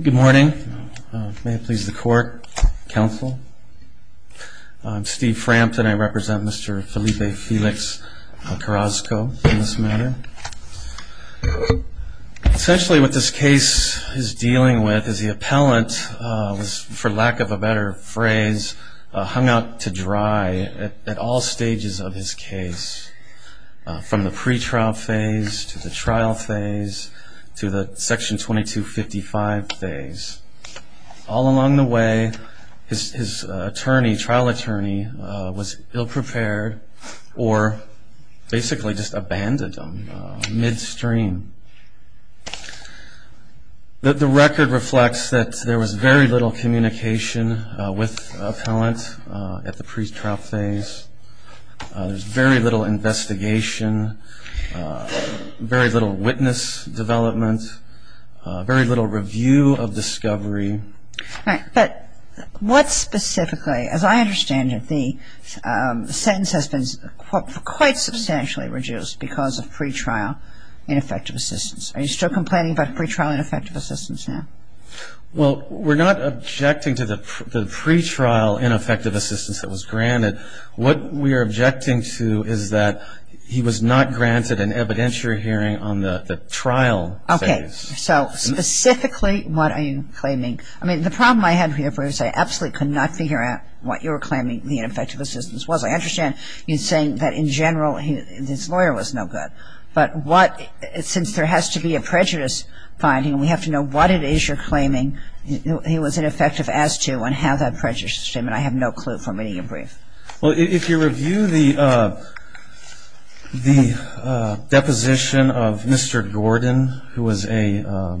Good morning. May it please the court, counsel. I'm Steve Frampton. I represent Mr. Felipe Felix Carrasco in this matter. Essentially what this case is dealing with is the appellant was, for lack of a better phrase, hung out to dry at all stages of his case. From the pretrial phase to the trial phase to the section 2255 phase. All along the way his trial attorney was ill prepared or basically just abandoned him midstream. The record reflects that there was very little communication with the appellant at the pretrial phase. There was very little investigation, very little witness development, very little review of discovery. All right. But what specifically, as I understand it, the sentence has been quite substantially reduced because of pretrial ineffective assistance. Are you still complaining about pretrial ineffective assistance now? Well, we're not objecting to the pretrial ineffective assistance that was granted. What we are objecting to is that he was not granted an evidentiary hearing on the trial phase. So specifically what are you claiming? I mean, the problem I had with your brief is I absolutely could not figure out what you were claiming the ineffective assistance was. I understand you're saying that in general his lawyer was no good. But what, since there has to be a prejudice finding, we have to know what it is you're claiming he was ineffective as to and how that prejudices him. Well, if you review the deposition of Mr. Gordon, who was a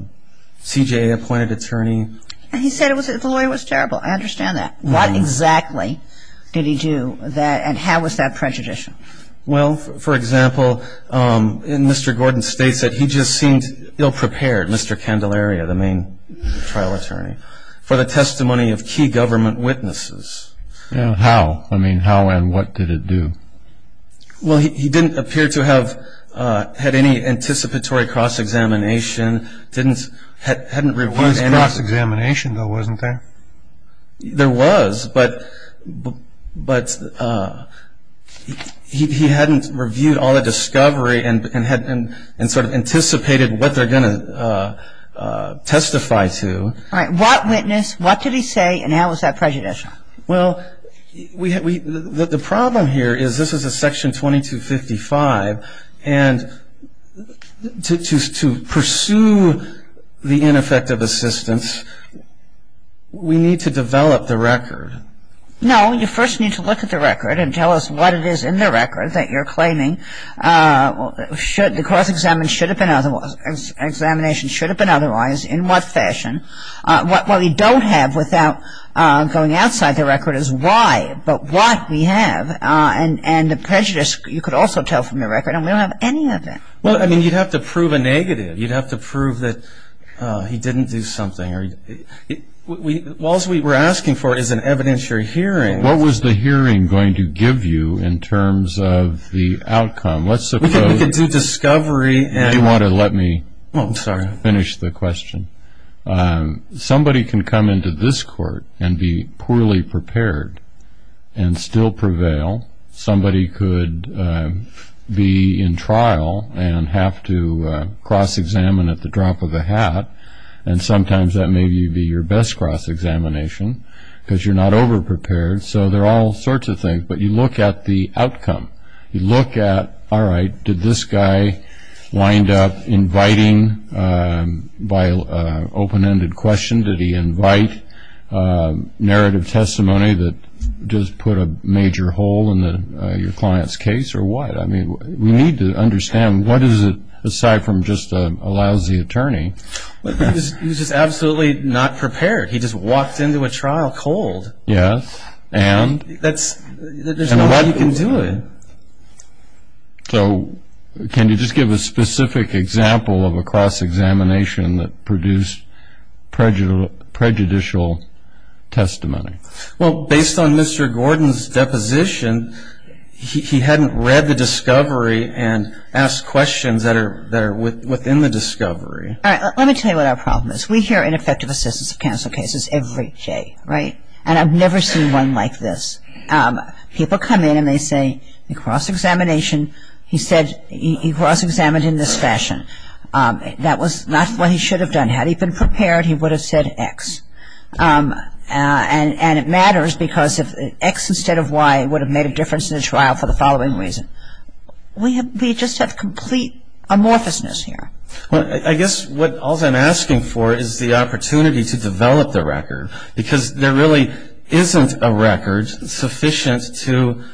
CJA-appointed attorney. He said the lawyer was terrible. I understand that. What exactly did he do and how was that prejudiced? Well, for example, Mr. Gordon states that he just seemed ill-prepared, Mr. Candelaria, the main trial attorney, for the testimony of key government witnesses. How? I mean, how and what did it do? Well, he didn't appear to have had any anticipatory cross-examination, didn't, hadn't reviewed any. There was cross-examination, though, wasn't there? There was, but he hadn't reviewed all the discovery and sort of anticipated what they're going to testify to. All right. What witness, what did he say, and how was that prejudicial? Well, we, the problem here is this is a Section 2255, and to pursue the ineffective assistance, we need to develop the record. No, you first need to look at the record and tell us what it is in the record that you're claiming should, that the cross-examination should have been otherwise, in what fashion. What we don't have without going outside the record is why, but what we have, and the prejudice you could also tell from the record, and we don't have any of that. Well, I mean, you'd have to prove a negative. You'd have to prove that he didn't do something. All's we were asking for is an evidentiary hearing. What was the hearing going to give you in terms of the outcome? Let's suppose- We can do discovery and- If you want to let me finish the question. Somebody can come into this court and be poorly prepared and still prevail. Somebody could be in trial and have to cross-examine at the drop of a hat, and sometimes that may be your best cross-examination because you're not over-prepared. So there are all sorts of things, but you look at the outcome. You look at, all right, did this guy wind up inviting, by open-ended question, did he invite narrative testimony that does put a major hole in your client's case, or what? I mean, we need to understand what is it, aside from just a lousy attorney. He was just absolutely not prepared. He just walked into a trial cold. Yes, and? There's no way you can do it. So can you just give a specific example of a cross-examination that produced prejudicial testimony? Well, based on Mr. Gordon's deposition, he hadn't read the discovery and asked questions that are within the discovery. All right, let me tell you what our problem is. We hear ineffective assistance of counsel cases every day, right? And I've never seen one like this. People come in and they say, the cross-examination, he said he cross-examined in this fashion. That was not what he should have done. Had he been prepared, he would have said X. And it matters because if X instead of Y would have made a difference in the trial for the following reason. We just have complete amorphousness here. Well, I guess what all I'm asking for is the opportunity to develop the record because there really isn't a record sufficient to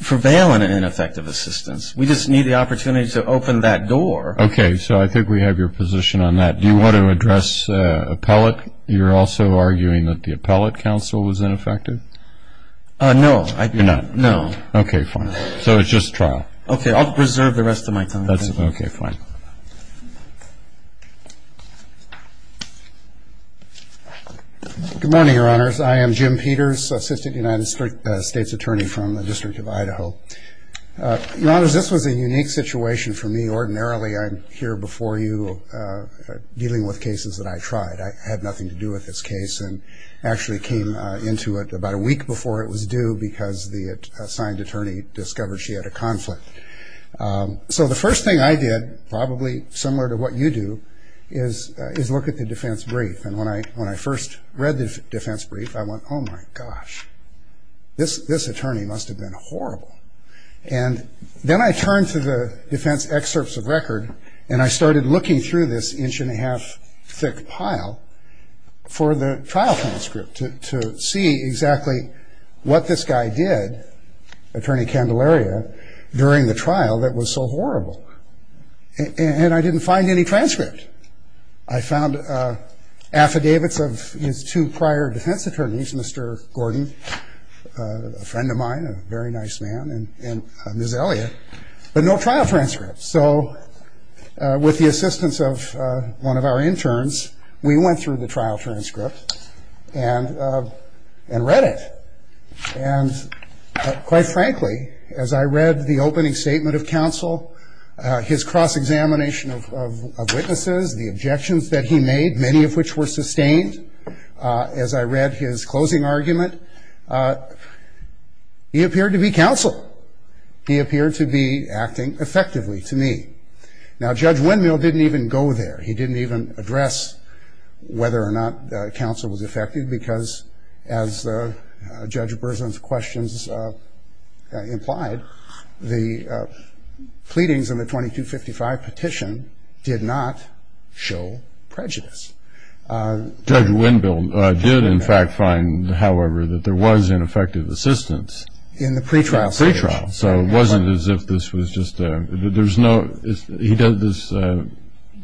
prevail in an ineffective assistance. We just need the opportunity to open that door. Okay, so I think we have your position on that. Do you want to address appellate? You're also arguing that the appellate counsel was ineffective? No. You're not? No. Okay, fine. So it's just trial. Okay, I'll preserve the rest of my time. Okay, fine. Good morning, Your Honors. I am Jim Peters, Assistant United States Attorney from the District of Idaho. Your Honors, this was a unique situation for me. Ordinarily I'm here before you dealing with cases that I tried. I had nothing to do with this case and actually came into it about a week before it was due because the assigned attorney discovered she had a conflict. So the first thing I did, probably similar to what you do, is look at the defense brief. And when I first read the defense brief, I went, oh, my gosh, this attorney must have been horrible. And then I turned to the defense excerpts of record, and I started looking through this inch-and-a-half thick pile for the trial transcript to see exactly what this guy did, Attorney Candelaria, during the trial that was so horrible. And I didn't find any transcript. I found affidavits of his two prior defense attorneys, Mr. Gordon, a friend of mine, a very nice man, and Ms. Elliott, but no trial transcript. So with the assistance of one of our interns, we went through the trial transcript and read it. And quite frankly, as I read the opening statement of counsel, his cross-examination of witnesses, the objections that he made, many of which were sustained, as I read his closing argument, he appeared to be counsel. He appeared to be acting effectively to me. Now, Judge Windmill didn't even go there. He didn't even address whether or not counsel was effective because, as Judge Berzin's questions implied, the pleadings in the 2255 petition did not show prejudice. Judge Windmill did, in fact, find, however, that there was ineffective assistance. In the pretrial situation. Pretrial. So it wasn't as if this was just a – there's no – he doesn't – this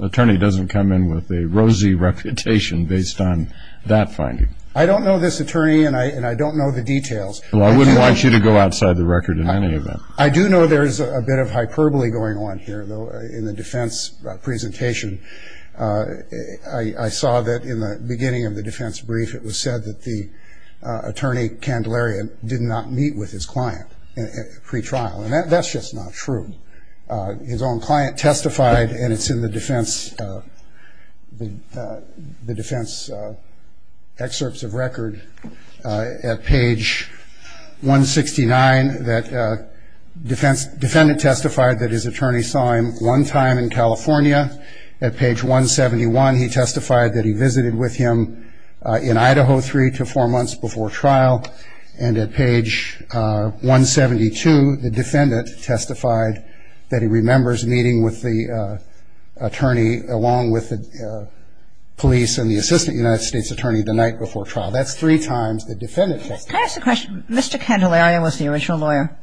attorney doesn't come in with a rosy reputation based on that finding. I don't know this attorney, and I don't know the details. Well, I wouldn't want you to go outside the record in any event. I do know there's a bit of hyperbole going on here, though, in the defense presentation. I saw that in the beginning of the defense brief, it was said that the attorney, Candelaria, did not meet with his client at pretrial. And that's just not true. His own client testified, and it's in the defense excerpts of record at page 169, that defendant testified that his attorney saw him one time in California. At page 171, he testified that he visited with him in Idaho three to four months before trial. And at page 172, the defendant testified that he remembers meeting with the attorney, along with the police and the assistant United States attorney, the night before trial. That's three times the defendant testified. Can I ask a question? Mr. Candelaria was the original lawyer.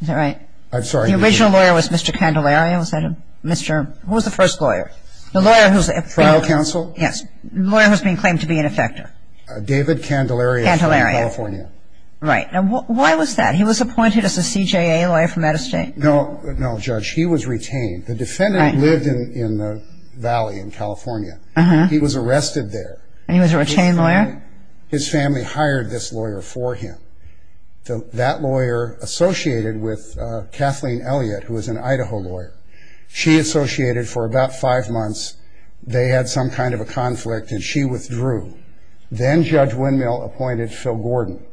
Is that right? I'm sorry. The original lawyer was Mr. Candelaria. Who was the first lawyer? The lawyer who was at pretrial. Trial counsel? Yes. The lawyer who was being claimed to be an effector. David Candelaria from California. Candelaria. Right. Now, why was that? He was appointed as a CJA lawyer from that estate. No, Judge. He was retained. The defendant lived in the valley in California. He was arrested there. And he was a retained lawyer? His family hired this lawyer for him. That lawyer associated with Kathleen Elliott, who was an Idaho lawyer. She associated for about five months. They had some kind of a conflict, and she withdrew. Then Judge Windmill appointed Phil Gordon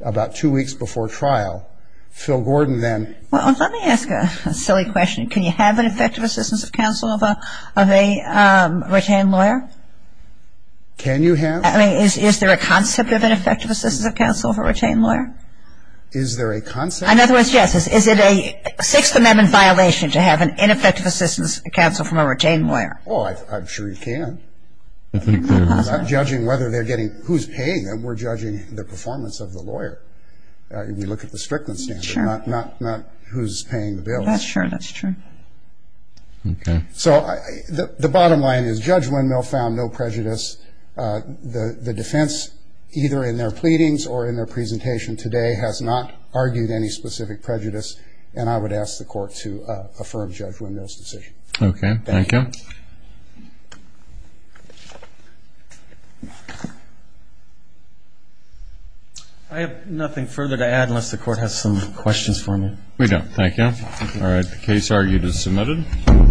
about two weeks before trial. Phil Gordon then ---- Well, let me ask a silly question. Can you have an effective assistance of counsel of a retained lawyer? Can you have? I mean, is there a concept of an effective assistance of counsel of a retained lawyer? Is there a concept? In other words, yes. Is it a Sixth Amendment violation to have an ineffective assistance of counsel from a retained lawyer? Oh, I'm sure you can. I'm not judging whether they're getting who's paying them. We're judging the performance of the lawyer. We look at the strictness standard, not who's paying the bills. That's true. That's true. Okay. So the bottom line is Judge Windmill found no prejudice. The defense, either in their pleadings or in their presentation today, has not argued any specific prejudice, and I would ask the Court to affirm Judge Windmill's decision. Okay. Thank you. I have nothing further to add unless the Court has some questions for me. We don't. Thank you. All right. Case argued as submitted.